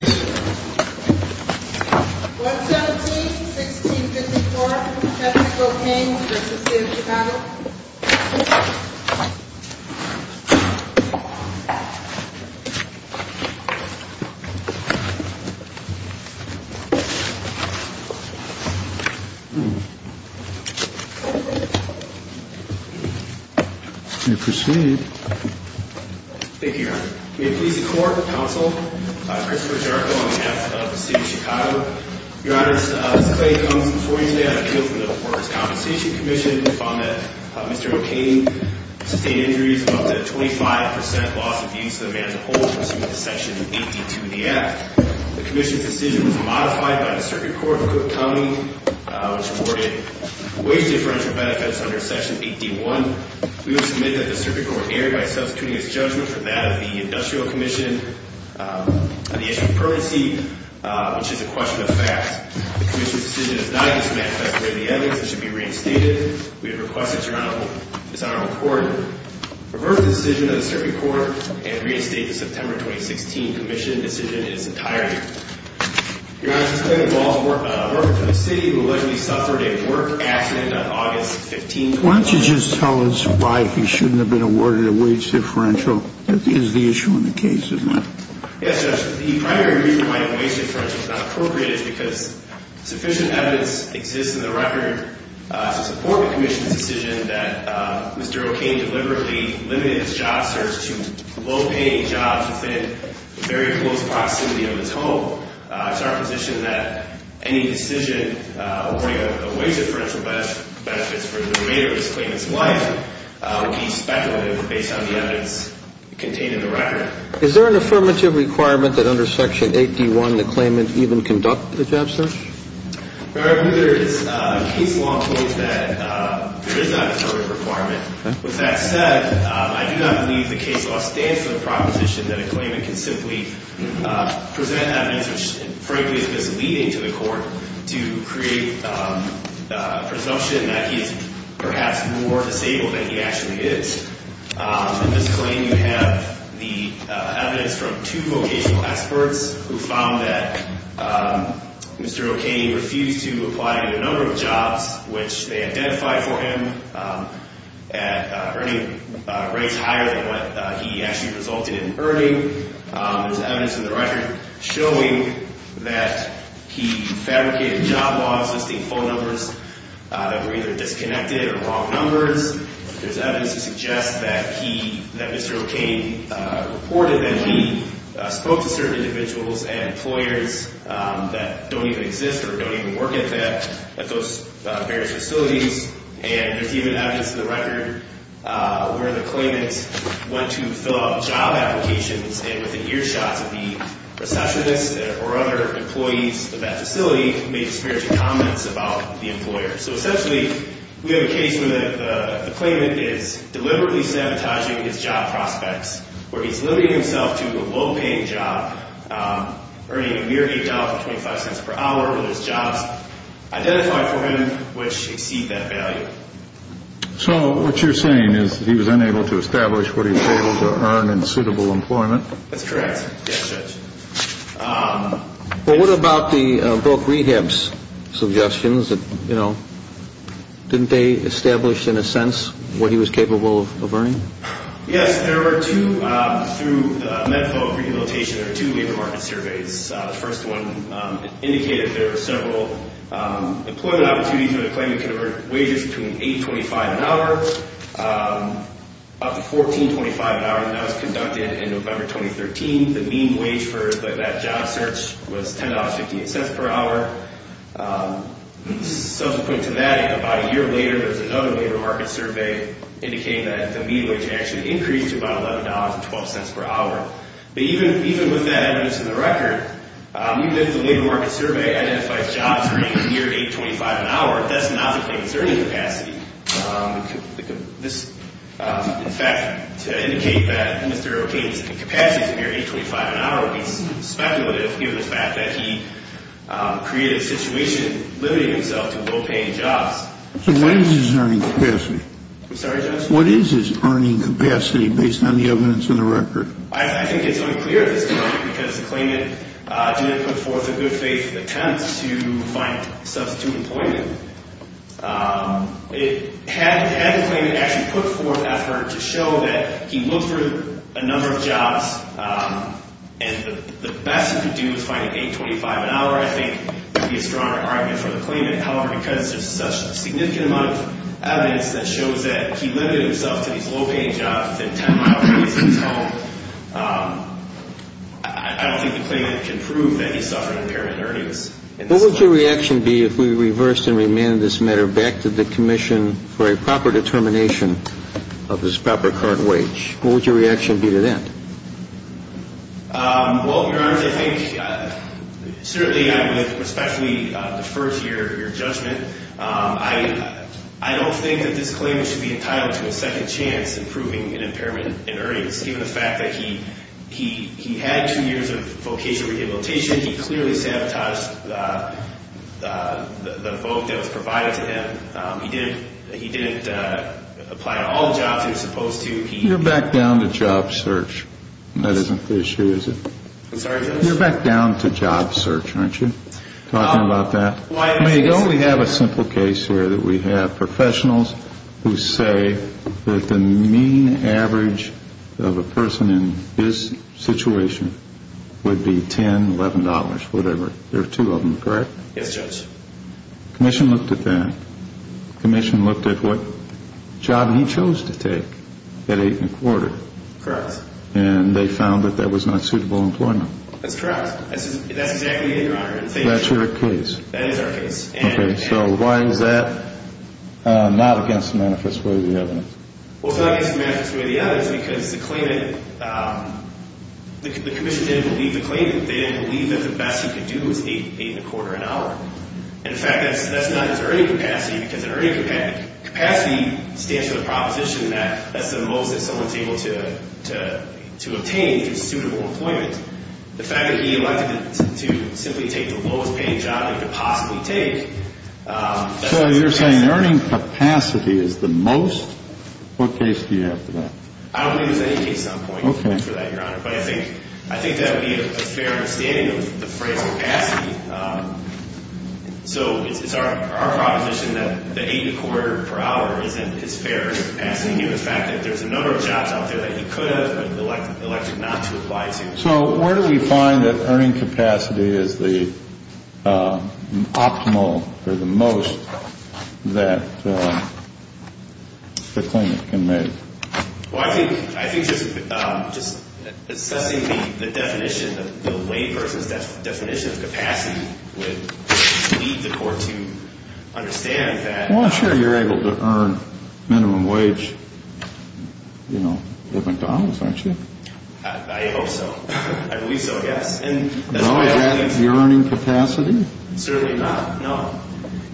117-1654, Kevin O'Kane v. City of Chicago Thank you, Your Honor. May it please the Court, Counsel, Christopher Jarko on behalf of the City of Chicago. Your Honor, this claim comes before you today on appeal for the Porter's Compensation Commission. We found that Mr. O'Kane sustained injuries of up to 25% loss of use of the man's hold pursuant to Section 82 of the Act. The Commission's decision was modified by the Circuit Court of Cook County, which awarded wage differential benefits under Section 81. We would submit that the Circuit Court erred by substituting its judgment for that of the Industrial Commission on the issue of permanency, which is a question of facts. The Commission's decision is not a dismanifest way of the evidence and should be reinstated. We have requested, Your Honor, that this Honorable Court revert the decision of the Circuit Court and reinstate the September 2016 Commission decision in its entirety. Your Honor, this claim involves a worker for the City who allegedly suffered a work accident on August 15, 2014. Why don't you just tell us why he shouldn't have been awarded a wage differential? That is the issue in the case, isn't it? Yes, Judge. The primary reason why a wage differential is not appropriate is because sufficient evidence exists in the record to support the Commission's decision that Mr. O'Kane deliberately limited his job search to low-paying jobs within very close proximity of his home. It's our position that any decision awarding a wage differential benefits for the remainder of this claimant's life would be speculative based on the evidence contained in the record. Is there an affirmative requirement that under Section 8D1 the claimant even conduct the job search? Your Honor, neither is case law in the way that there is an affirmative requirement. With that said, I do not believe the case law stands for the proposition that a claimant can simply present evidence which, frankly, is misleading to the court to create a presumption that he's perhaps more disabled than he actually is. In this claim, you have the evidence from two vocational experts who found that Mr. O'Kane refused to apply to a number of jobs, which they identified for him as earning rates higher than what he actually resulted in earning. There's evidence in the record showing that he fabricated job laws listing phone numbers that were either disconnected or wrong numbers. There's evidence to suggest that Mr. O'Kane reported that he spoke to certain individuals and employers that don't even exist or don't even work at those various facilities, and there's even evidence in the record where the claimant went to fill out job applications and within earshots of the receptionist or other employees of that facility made disparaging comments about the employer. So essentially, we have a case where the claimant is deliberately sabotaging his job prospects, where he's limiting himself to a low-paying job earning a mere $8.25 per hour, or those jobs identified for him which exceed that value. So what you're saying is he was unable to establish what he was able to earn in suitable employment? That's correct. Yes, Judge. Well, what about the broke rehabs suggestions? You know, didn't they establish in a sense what he was capable of earning? Yes, there were two through the method of rehabilitation. There were two labor market surveys. The first one indicated there were several employment opportunities where the claimant could have earned wages between $8.25 an hour up to $14.25 an hour, and that was conducted in November 2013. The mean wage for that job search was $10.58 per hour. Subsequent to that, about a year later, there was another labor market survey indicating that the mean wage actually increased to about $11.12 per hour. But even with that evidence in the record, even if the labor market survey identifies jobs earning a mere $8.25 an hour, that's not the claimant's earning capacity. In fact, to indicate that Mr. O'Kane's capacity is a mere $8.25 an hour would be speculative given the fact that he created a situation limiting himself to low-paying jobs. So what is his earning capacity? I'm sorry, Judge? What is his earning capacity based on the evidence in the record? I think it's unclear at this point because the claimant didn't put forth a good faith attempt to find substitute employment. Had the claimant actually put forth effort to show that he looked for a number of jobs and the best he could do was find an $8.25 an hour, I think, would be a stronger argument for the claimant. However, because there's such a significant amount of evidence that shows that he limited himself to these low-paying jobs within 10 miles of his home, I don't think the claimant can prove that he suffered impairment earnings. What would your reaction be if we reversed and remanded this matter back to the commission for a proper determination of his proper current wage? What would your reaction be to that? Well, Your Honor, I think certainly I would especially defer to your judgment. I don't think that this claimant should be entitled to a second chance in proving an impairment in earnings. Given the fact that he had two years of vocational rehabilitation, he clearly sabotaged the vote that was provided to him. He didn't apply to all the jobs he was supposed to. You're back down to job search. That isn't the issue, is it? I'm sorry, Judge? You're back down to job search, aren't you, talking about that? I mean, don't we have a simple case here that we have professionals who say that the mean average of a person in this situation would be $10, $11, whatever. There are two of them, correct? Yes, Judge. Commission looked at that. Commission looked at what job he chose to take at eight and a quarter. Correct. And they found that that was not suitable employment. That's correct. That's exactly it, Your Honor. That's your case? That is our case. Okay, so why is that not against the manifest way of the evidence? Well, it's not against the manifest way of the evidence because the claimant, the commission didn't believe the claimant. They didn't believe that the best he could do was eight and a quarter an hour. And, in fact, that's not his earning capacity because an earning capacity stands for the proposition that that's the most that someone's able to obtain through suitable employment. The fact that he elected to simply take the lowest-paying job he could possibly take, that's the best. So you're saying earning capacity is the most? What case do you have for that? I don't believe there's any case on point for that, Your Honor. But I think that would be a fair understanding of the phrase capacity. So it's our proposition that the eight and a quarter per hour isn't as fair as passing you the fact that there's a number of jobs out there that he could have but elected not to apply to. So where do we find that earning capacity is the optimal or the most that the claimant can make? Well, I think just assessing the definition, the layperson's definition of capacity would lead the court to understand that. Well, I'm sure you're able to earn minimum wage, you know, at McDonald's, aren't you? I hope so. I believe so, yes. No, is that the earning capacity? Certainly not, no.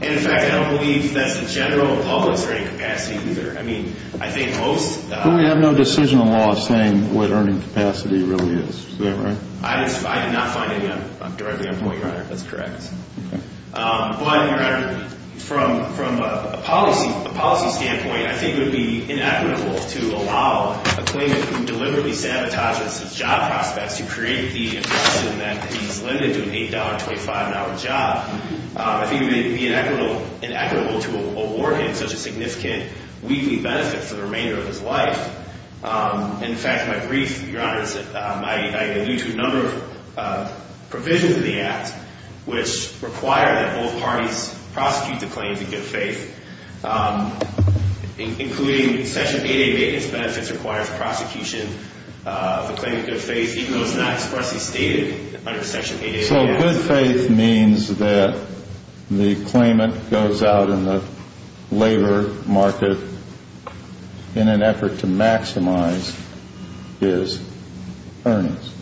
And, in fact, I don't believe that's the general public's earning capacity either. But we have no decisional law saying what earning capacity really is. Is that right? I did not find any directly on point, Your Honor. That's correct. Okay. But, Your Honor, from a policy standpoint, I think it would be inequitable to allow a claimant who deliberately sabotages his job prospects to create the impression that he's limited to an $8, $25 job. I think it would be inequitable to award him such a significant weekly benefit for the remainder of his life. In fact, my brief, Your Honor, I allude to a number of provisions in the Act which require that both parties prosecute the claims in good faith, including Section 8A maintenance benefits requires prosecution of a claim in good faith, even though it's not expressly stated under Section 8A. So good faith means that the claimant goes out in the labor market in an effort to maximize his earnings.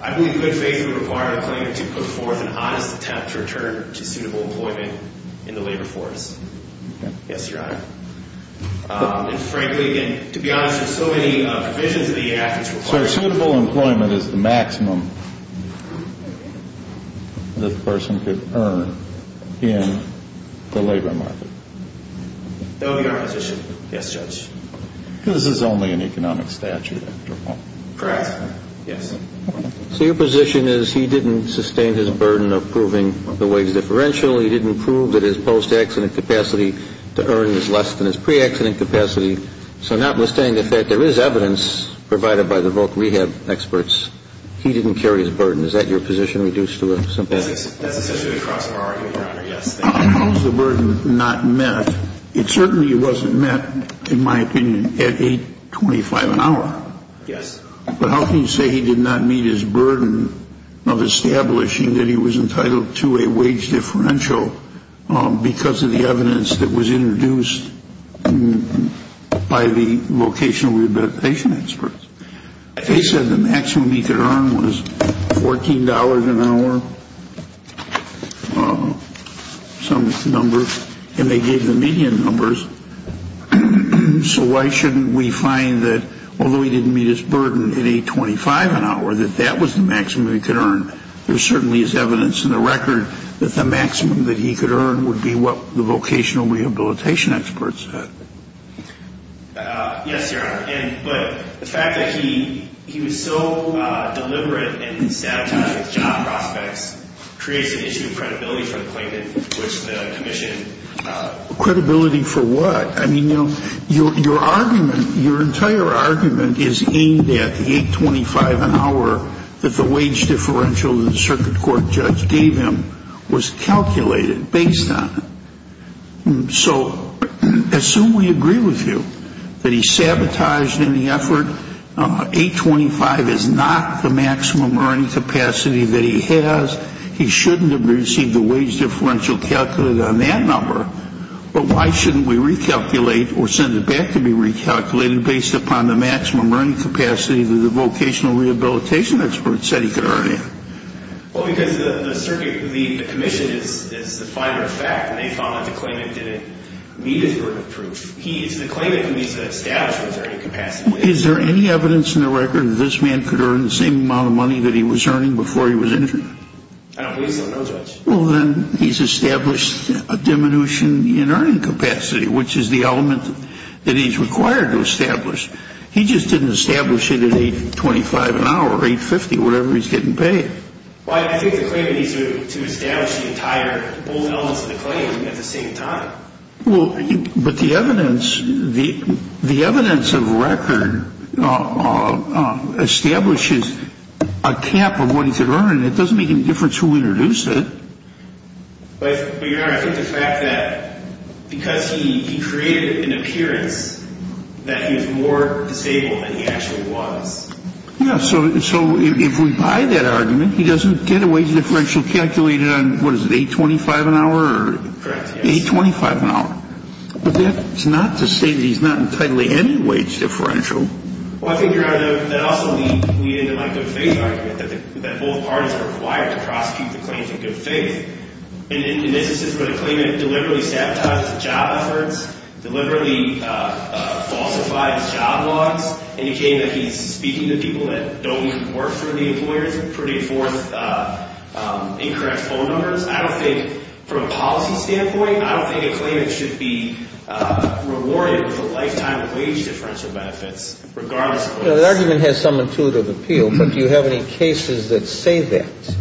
I believe good faith would require the claimant to put forth an honest attempt to return to suitable employment in the labor force. Okay. Yes, Your Honor. And, frankly, again, to be honest, there's so many provisions in the Act which require that. So suitable employment is the maximum that the person could earn in the labor market. No, Your Honor. Yes, Judge. Because this is only an economic statute, after all. Correct. Yes. So your position is he didn't sustain his burden of proving the wage differential. He didn't prove that his post-accident capacity to earn is less than his pre-accident capacity. So notwithstanding the fact there is evidence provided by the voc rehab experts, he didn't carry his burden. Is that your position? Reduce to a simple answer. That's essentially the crux of our argument, Your Honor. Yes. How is the burden not met? It certainly wasn't met, in my opinion, at 8.25 an hour. Yes. But how can you say he did not meet his burden of establishing that he was entitled to a wage differential because of the evidence that was introduced? By the vocational rehabilitation experts. They said the maximum he could earn was $14 an hour, some number, and they gave the median numbers. So why shouldn't we find that although he didn't meet his burden at 8.25 an hour, that that was the maximum he could earn? There certainly is evidence in the record that the maximum that he could earn would be what the vocational rehabilitation experts said. Yes, Your Honor. But the fact that he was so deliberate in sabotaging job prospects creates an issue of credibility for the plaintiff, which the commission – Credibility for what? I mean, your argument, your entire argument is aimed at 8.25 an hour that the wage differential that the circuit court judge gave him was calculated based on it. So assume we agree with you that he sabotaged any effort. 8.25 is not the maximum earning capacity that he has. He shouldn't have received the wage differential calculated on that number. But why shouldn't we recalculate or send it back to be recalculated based upon the maximum earning capacity that the vocational rehabilitation experts said he could earn in? Well, because the circuit – the commission is the finer of fact, and they found that the claimant didn't meet his burden of proof. He – so the claimant can be established with earning capacity. Is there any evidence in the record that this man could earn the same amount of money that he was earning before he was injured? I don't believe so, no, Judge. Well, then he's established a diminution in earning capacity, which is the element that he's required to establish. He just didn't establish it at 8.25 an hour, 8.50, whatever he's getting paid. Well, I think the claimant needs to establish the entire – both elements of the claim at the same time. Well, but the evidence – the evidence of record establishes a cap of what he could earn. It doesn't make any difference who introduced it. But, Your Honor, I think the fact that because he created an appearance that he was more disabled than he actually was. Yeah, so if we buy that argument, he doesn't get a wage differential calculated on, what is it, 8.25 an hour? Correct, yes. 8.25 an hour. But that's not to say that he's not entitled to any wage differential. Well, I think, Your Honor, that also leads into my good faith argument that both parties are required to prosecute the claims in good faith. And this is where the claimant deliberately sabotages job efforts, deliberately falsifies job logs, indicating that he's speaking to people that don't even work for the employers, putting forth incorrect phone numbers. I don't think – from a policy standpoint, I don't think a claimant should be rewarded with a lifetime of wage differential benefits, regardless of what's – The argument has some intuitive appeal, but do you have any cases that say that?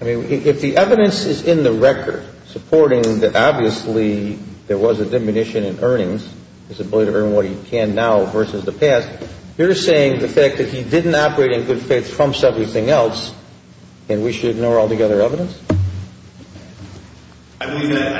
I mean, if the evidence is in the record supporting that obviously there was a diminution in earnings, his ability to earn what he can now versus the past, You're saying the fact that he didn't operate in good faith trumps everything else and we should ignore altogether evidence? I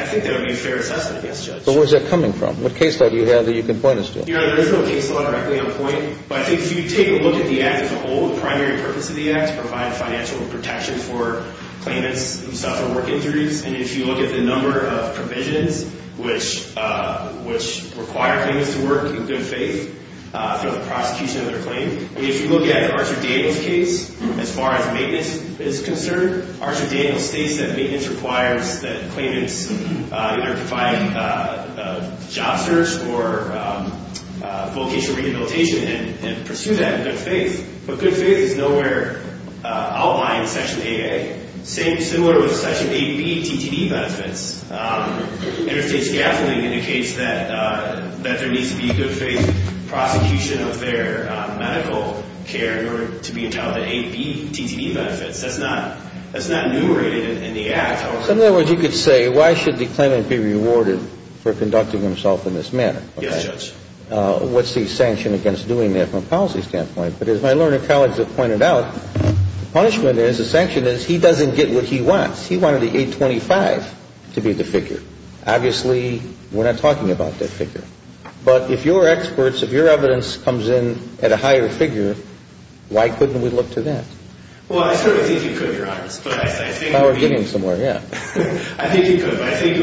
think that would be a fair assessment, yes, Judge. But where's that coming from? What case law do you have that you can point us to? Your Honor, there's no case law directly on point, but I think if you take a look at the act as a whole, the primary purpose of the act is to provide financial protection for claimants who suffer work injuries. And if you look at the number of provisions which require claimants to work in good faith through the prosecution of their claim, if you look at Archer Daniels' case, as far as maintenance is concerned, Archer Daniels states that maintenance requires that claimants either provide job search or vocational rehabilitation and pursue that in good faith. But good faith is nowhere outlined in Section 8A, similar with Section 8B TTE benefits. Interstate scaffolding indicates that there needs to be good faith prosecution of their medical care in order to be entitled to 8B TTE benefits. That's not enumerated in the act. So in other words, you could say why should the claimant be rewarded for conducting himself in this manner? Yes, Judge. What's the sanction against doing that from a policy standpoint? But as my learned colleagues have pointed out, the punishment is, the sanction is, he doesn't get what he wants. He wanted the 825 to be the figure. Obviously, we're not talking about that figure. But if you're experts, if your evidence comes in at a higher figure, why couldn't we look to that? Well, I certainly think you could, Your Honor. But I think it would be unfair. I think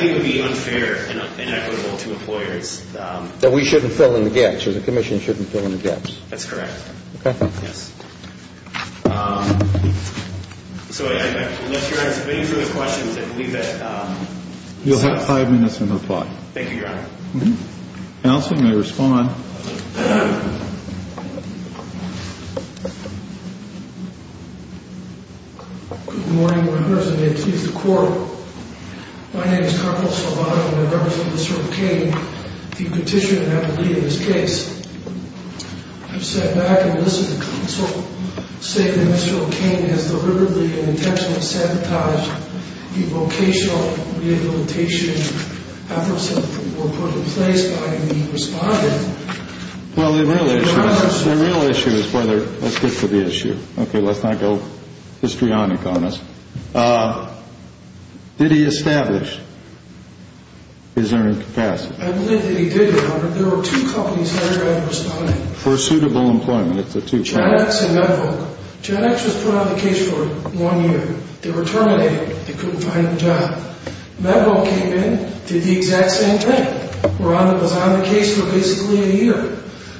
it would be unfair and inequitable to employers. That we shouldn't fill in the gaps, or the Commission shouldn't fill in the gaps. That's correct. Okay. Yes. So I will let Your Honor submit these other questions and leave it. You'll have five minutes to reply. Thank you, Your Honor. Counsel may respond. Good morning, Your Honors, and may it please the Court. My name is Carpal Salvato, and I represent Mr. O'Kane, the Petitioner and Advocate in this case. I've sat back and listened to counsel say that Mr. O'Kane has deliberately and intentionally sabotaged the vocational rehabilitation efforts that were put in place by the Respondent. Well, the real issue is whether – let's get to the issue. Okay, let's not go histrionic on this. Did he establish his earning capacity? I believe that he did, Your Honor. There were two companies that were under Respondent. For suitable employment. It's the two companies. GenX and MedVolk. GenX was put on the case for one year. They were terminated. They couldn't find a job. MedVolk came in, did the exact same thing. They were on the case for basically a year.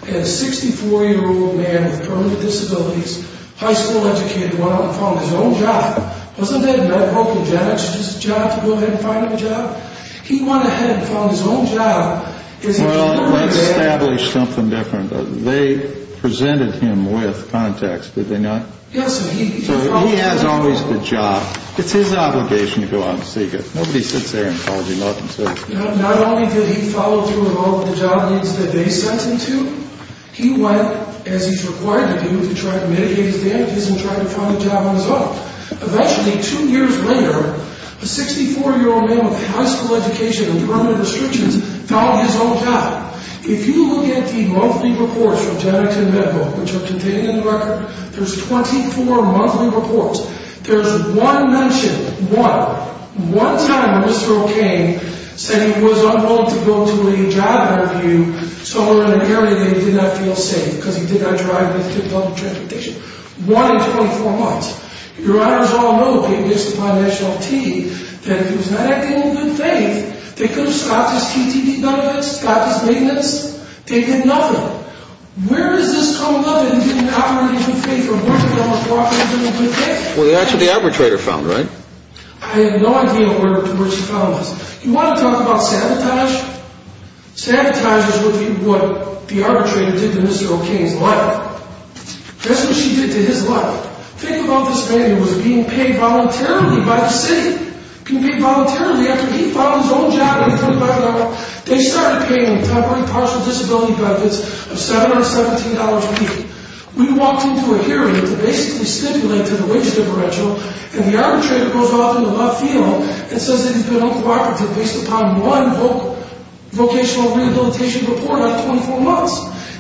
And a 64-year-old man with permanent disabilities, high school educated, went out and found his own job. Wasn't that MedVolk and GenX's job to go ahead and find him a job? He went ahead and found his own job. Well, let's establish something different. They presented him with contacts, did they not? Yes. So he has always the job. It's his obligation to go out and seek it. Nobody sits there and calls you nothing. Not only did he follow through with all of the job leads that they sent him to, he went, as he's required to do, to try to mitigate his damages and try to find a job on his own. Eventually, two years later, a 64-year-old man with high school education and permanent restrictions found his own job. If you look at the monthly reports from GenX and MedVolk, which are contained in the record, there's 24 monthly reports. There's one mentioned. One. One time, Mr. O'Kane said he was on loan to go to a job interview somewhere in an area that he did not feel safe because he did not drive with good public transportation. One in 24 months. Your honors all know, gave this to my national team, that if he was not acting in good faith, they could have stopped his CTD numbers, stopped his maintenance. They did nothing. Where is this coming from that he didn't operate in good faith from working hours, walking and doing good things? Well, that's what the arbitrator found, right? I have no idea where she found this. You want to talk about sabotage? Sabotage is what the arbitrator did to Mr. O'Kane's life. That's what she did to his life. Think about this man who was being paid voluntarily by the city. Being paid voluntarily after he found his own job and couldn't find a job. They started paying temporary partial disability benefits of $717 a week. We walked into a hearing to basically stipulate to the wage differential and the arbitrator goes off into left field and says that he's been uncooperative based upon one vocational rehabilitation report of 24 months.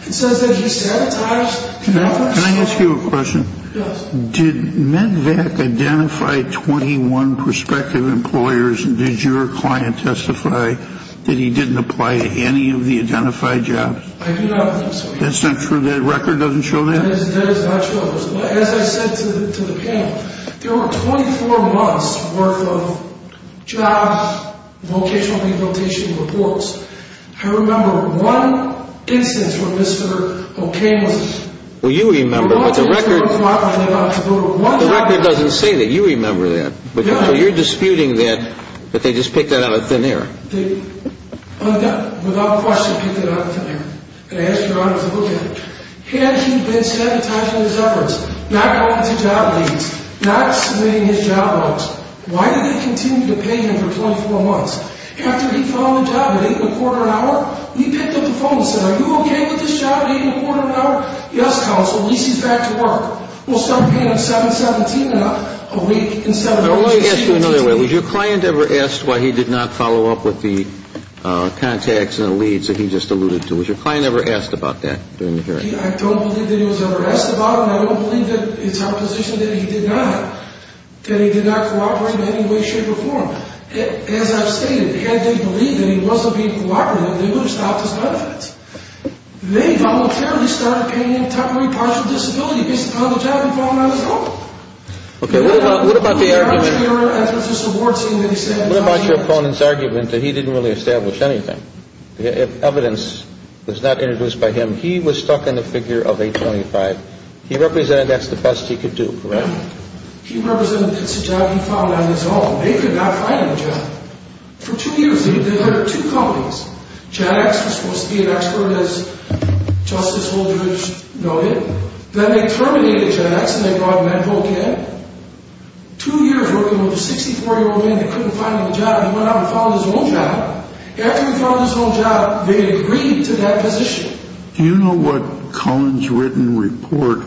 It says that he sabotaged. Can I ask you a question? Yes. Did MedVac identify 21 prospective employers and did your client testify that he didn't apply to any of the identified jobs? I do not think so. That's not true? That record doesn't show that? That is not true. As I said to the panel, there were 24 months worth of jobs, vocational rehabilitation reports. I remember one instance where Mr. O'Kane was- Well, you remember, but the record- The record doesn't say that you remember that. No. So you're disputing that they just picked that out of thin air. They undoubtedly, without question, picked that out of thin air. Had he been sabotaging his efforts, not going to job leads, not submitting his job logs, why did they continue to pay him for 24 months? After he found the job at 8.25, he picked up the phone and said, are you okay with this job at 8.25? Yes, counsel, at least he's back to work. We'll start paying him 7.17 and up a week instead of- Let me ask you another way. Was your client ever asked why he did not follow up with the contacts and the leads that he just alluded to? Was your client ever asked about that during the hearing? I don't believe that he was ever asked about it, and I don't believe that it's our position that he did not- that he did not cooperate in any way, shape, or form. As I've stated, had they believed that he wasn't being cooperative, they would have stopped his benefits. They voluntarily started paying him every partial disability based upon the job he found on his own. Okay, what about the argument- What about your opponent's argument that he didn't really establish anything? Evidence was not introduced by him. He was stuck in the figure of 8.25. He represented that's the best he could do, correct? He represented it's a job he found on his own. They could not find him a job. For two years, they hired two companies. GenX was supposed to be an expert, as Justice Holdridge noted. Then they terminated GenX and they brought Medvoc in. Two years working with a 64-year-old man that couldn't find him a job, he went out and found his own job. After he found his own job, they agreed to that position. Do you know what Cohen's written report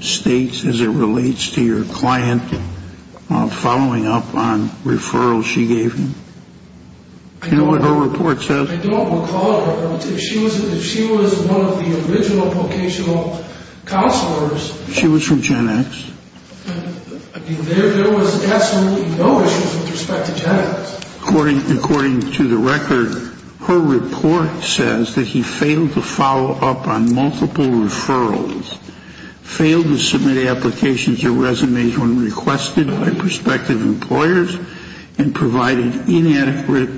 states as it relates to your client following up on referrals she gave him? Do you know what her report says? I don't recall it. If she was one of the original vocational counselors- She was from GenX. There was absolutely no issues with respect to GenX. According to the record, her report says that he failed to follow up on multiple referrals, failed to submit applications to resumes when requested by prospective employers, and provided inadequate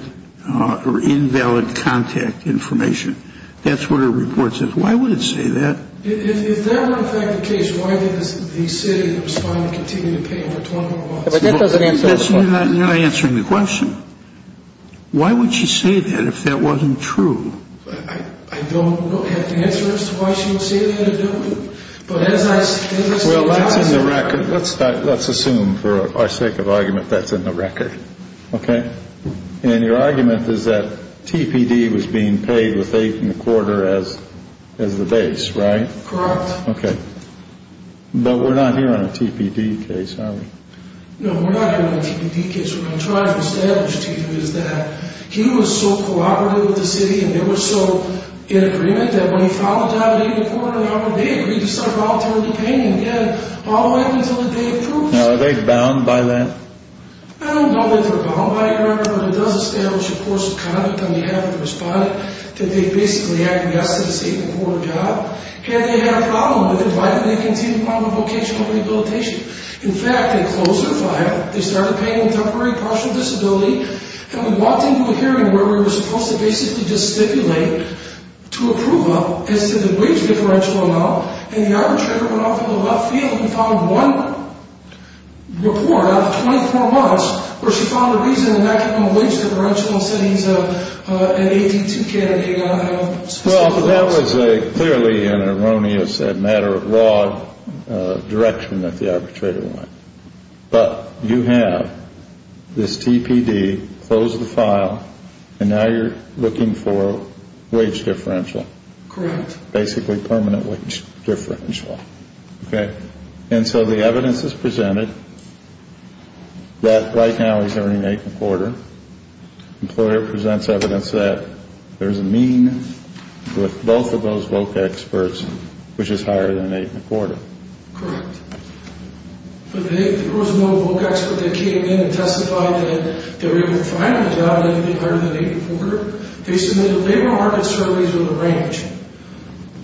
or invalid contact information. That's what her report says. Why would it say that? If that were in fact the case, why did the city respond to continue to pay him for 20 more months? That's not answering the question. Why would she say that if that wasn't true? I don't have the answer as to why she would say that or do it. Well, that's in the record. Let's assume for our sake of argument that's in the record, okay? And your argument is that TPD was being paid with eight and a quarter as the base, right? Correct. Okay. But we're not here on a TPD case, are we? No, we're not here on a TPD case. What I'm trying to establish to you is that he was so cooperative with the city and they were so in agreement that when he filed a job at eight and a quarter, how would they agree to start volunteering to pay him again all the way until the day approves? Now, are they bound by that? I don't know that they're bound by that, but it does establish a course of conduct on behalf of the respondent that they basically aggressed at an eight and a quarter job. Had they had a problem with it, why did they continue on with vocational rehabilitation? In fact, they closed their file, they started paying him temporary partial disability, and we walked into a hearing where we were supposed to basically just stipulate to approve him as to the wage differential amount, and the arbitrator went off in the left field and found one report out of 24 months where she found a reason in that given the wage differential and said he's an 18-2 candidate and not have specific rights. Well, that was clearly an erroneous matter of law direction that the arbitrator went. But you have this TPD, closed the file, and now you're looking for wage differential. Correct. Basically permanent wage differential. Okay. And so the evidence is presented that right now he's earning eight and a quarter. Employer presents evidence that there's a mean with both of those voc experts, which is higher than eight and a quarter. Correct. There was one voc expert that came in and testified that they were able to find a job that was higher than eight and a quarter. They submitted labor market surveys with a range.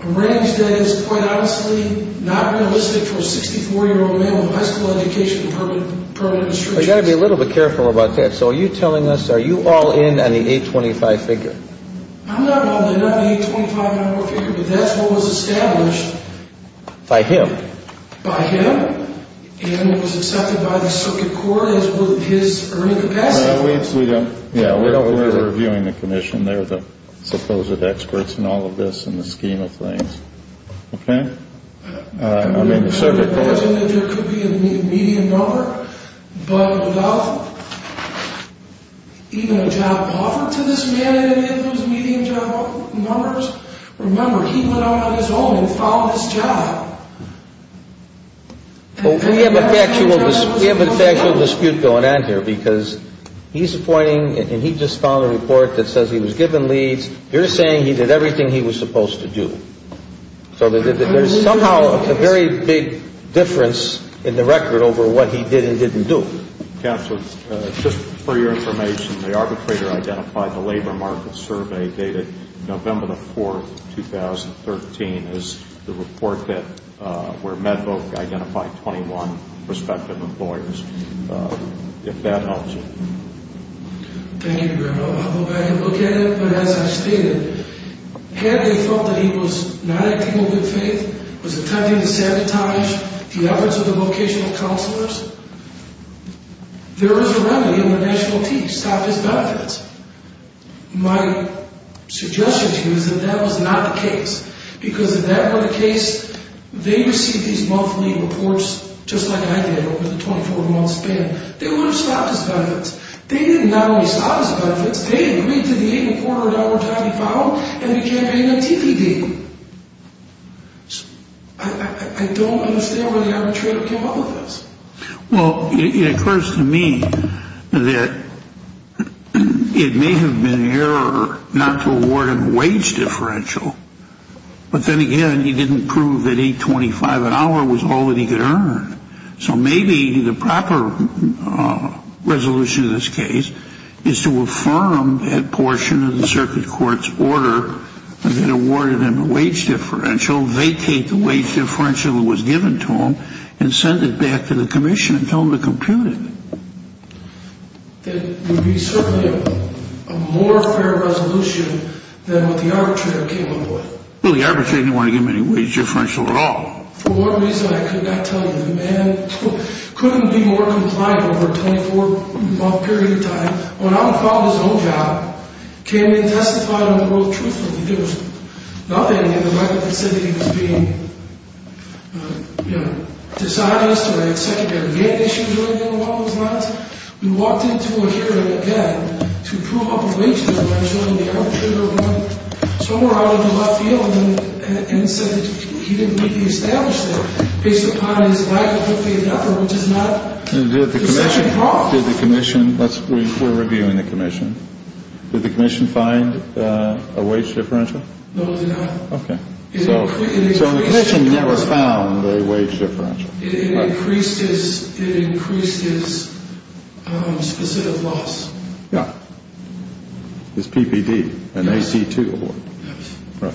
A range that is quite honestly not realistic for a 64-year-old man with a high school education and permanent insurance. You've got to be a little bit careful about that. So are you telling us, are you all in on the 825 figure? I'm not in on the 825 number figure, but that's what was established. By him? By him. And it was accepted by the circuit court as his earning capacity. Yeah, we're reviewing the commission. They're the supposed experts in all of this in the scheme of things. Okay. I'm in the circuit court. We have a factual dispute going on here because he's pointing and he just found a report that says he was given leads. You're saying he did everything he was supposed to do. So there's somehow a very big difference in the record over what he did and didn't do. Counselor, just for your information, the arbitrator identified the labor market survey dated November the 4th, 2013, as the report where MedVoc identified 21 prospective employers. If that helps you. Thank you, General. I'll go back and look at it. But as I stated, had they thought that he was not acting in good faith, was attempting to sabotage the efforts of the vocational counselors, there is a remedy in the national team. Stop his benefits. My suggestion to you is that that was not the case because if that were the case, they received these monthly reports, just like I did, over the 24-month span. They would have stopped his benefits. They did not only stop his benefits. They agreed to the $8.25 that he filed, and he campaigned on TV dating. I don't understand why the arbitrator came up with this. Well, it occurs to me that it may have been an error not to award him a wage differential. But then again, he didn't prove that $8.25 an hour was all that he could earn. So maybe the proper resolution in this case is to affirm that portion of the circuit court's order that awarded him a wage differential, vacate the wage differential that was given to him, and send it back to the commission and tell them to compute it. That would be certainly a more fair resolution than what the arbitrator came up with. Well, the arbitrator didn't want to give him any wage differential at all. For whatever reason, I could not tell you. The man couldn't be more compliant over a 24-month period of time. When I would file his own job, he came in and testified on the world truthfully. There was nothing in the record that said he was being dishonest or had secondary gain issues or anything along those lines. We walked into a hearing again to prove up a wage differential, and the arbitrator went somewhere out in the left field and said that he didn't need to be established there based upon his likelihood of the other, which is not the second problem. We're reviewing the commission. Did the commission find a wage differential? No, they did not. Okay. So the commission never found a wage differential. It increased his specific loss. Yeah. His PPD, an AC-2 award. Yes. Right.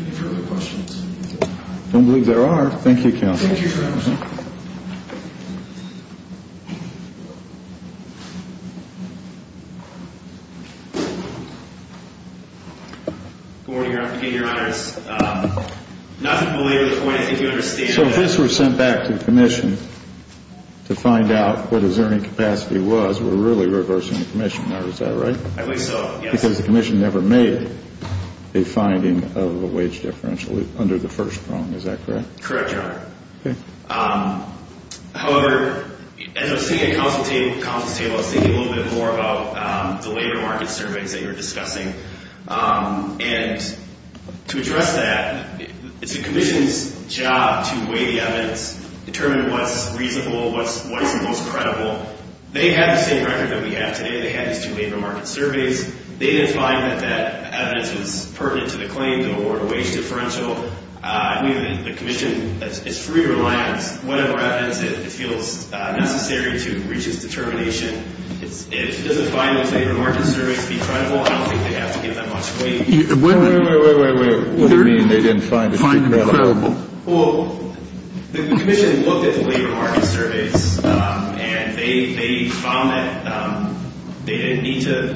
Any further questions? I don't believe there are. Thank you, counsel. Thank you, Your Honor. Good morning, Your Honor. Nothing to belabor the point I think you understand. So if this were sent back to the commission to find out what his earning capacity was, we're really reversing the commission. Is that right? I believe so, yes. Because the commission never made a finding of a wage differential under the first problem. Is that correct? Correct, Your Honor. Okay. However, as I was sitting at counsel's table, I was thinking a little bit more about the labor market surveys that you were discussing. And to address that, it's the commission's job to weigh the evidence, determine what's reasonable, what is the most credible. They have the same record that we have today. They have these two labor market surveys. They didn't find that that evidence was pertinent to the claim to award a wage differential. I believe the commission is free to reliance whatever evidence it feels necessary to reach its determination. Does it find those labor market surveys to be credible? I don't think they have to give that much weight. Wait, wait, wait, wait, wait. What do you mean they didn't find it to be credible? Well, the commission looked at the labor market surveys, and they found that they didn't need to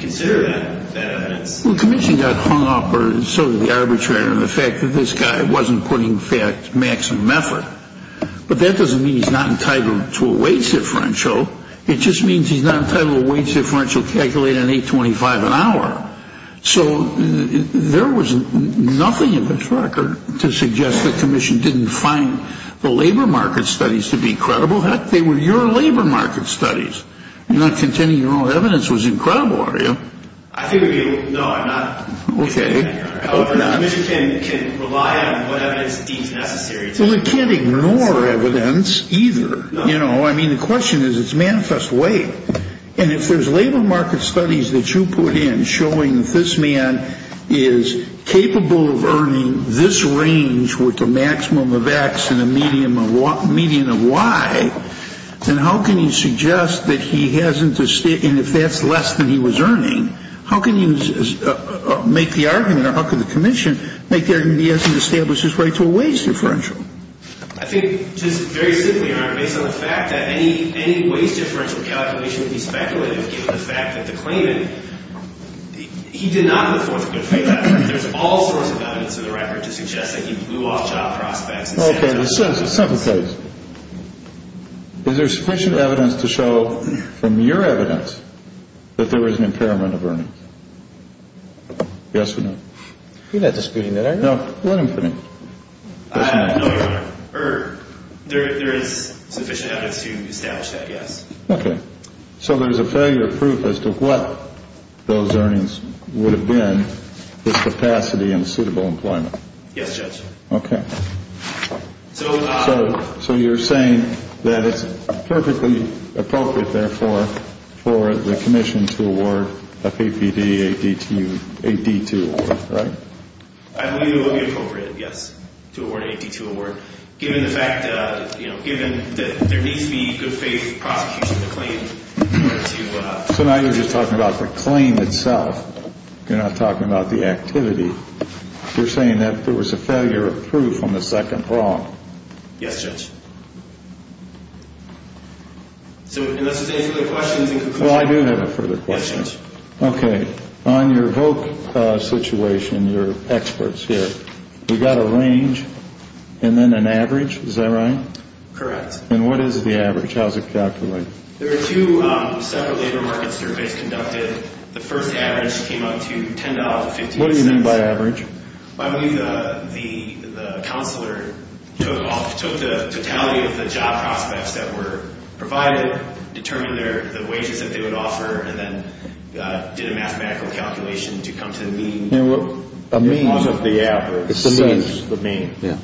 consider that evidence. Well, the commission got hung up or sort of the arbitrator on the fact that this guy wasn't putting maximum effort. But that doesn't mean he's not entitled to a wage differential. It just means he's not entitled to a wage differential calculated at $8.25 an hour. So there was nothing in this record to suggest the commission didn't find the labor market studies to be credible. Heck, they were your labor market studies. You're not contending your own evidence was incredible, are you? I think it would be. No, I'm not. Okay. However, the commission can rely on what evidence it deems necessary. Well, it can't ignore evidence either. You know, I mean, the question is, it's manifest weight. And if there's labor market studies that you put in showing that this man is capable of earning this range with a maximum of X and a median of Y, then how can you suggest that he hasn't, and if that's less than he was earning, how can you make the argument or how can the commission make the argument he hasn't established his right to a wage differential? I think just very simply, Your Honor, based on the fact that any wage differential calculation would be speculative given the fact that the claimant, he did not put forth a good faith argument. There's all sorts of evidence in the record to suggest that he blew off job prospects. Okay. Let's set the case. Is there sufficient evidence to show from your evidence that there was an impairment of earnings? Yes or no? You're not disputing that, are you? No. No, Your Honor. There is sufficient evidence to establish that, yes. Okay. So there's a failure of proof as to what those earnings would have been with capacity and suitable employment. Yes, Judge. Okay. So you're saying that it's perfectly appropriate, therefore, for the commission to award a PPD AD2 award, right? I believe it would be appropriate, yes, to award an AD2 award given the fact that there needs to be good faith prosecution of the claim. So now you're just talking about the claim itself. You're not talking about the activity. You're saying that there was a failure of proof on the second wrong. Yes, Judge. So unless there's any further questions in conclusion. Well, I do have a further question. Yes, Judge. Okay. On your voc situation, your experts here, we've got a range and then an average. Is that right? Correct. And what is the average? How is it calculated? There are two separate labor market surveys conducted. The first average came out to $10.15. What do you mean by average? I believe the counselor took the totality of the job prospects that were provided, determined the wages that they would offer, and then did a mathematical calculation to come to the mean. It's the mean. It's the mean. Yeah.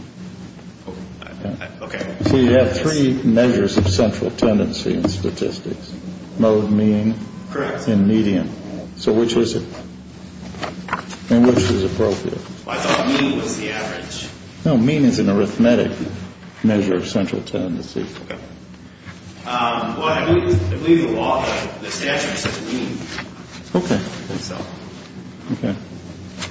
Okay. So you have three measures of central tendency in statistics, mode, mean. Correct. And median. So which is it? And which is appropriate? I thought mean was the average. No, mean is an arithmetic measure of central tendency. Okay. Well, I believe the law, the statute, says mean. Okay. I think so. Okay.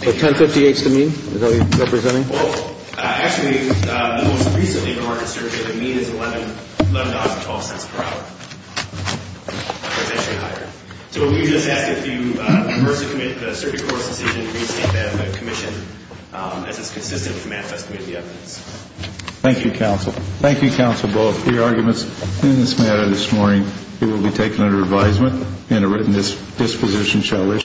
So $10.58 is the mean? Is that what you're representing? Well, actually, the most recent labor market survey, the mean is $11.12 per hour. It's actually higher. So we would just ask if you reverse the survey course decision to restate that commission as it's consistent with the manifest committee evidence. Thank you, Counsel. Thank you, Counsel, both for your arguments. In this matter this morning, it will be taken under advisement and a written disposition shall issue.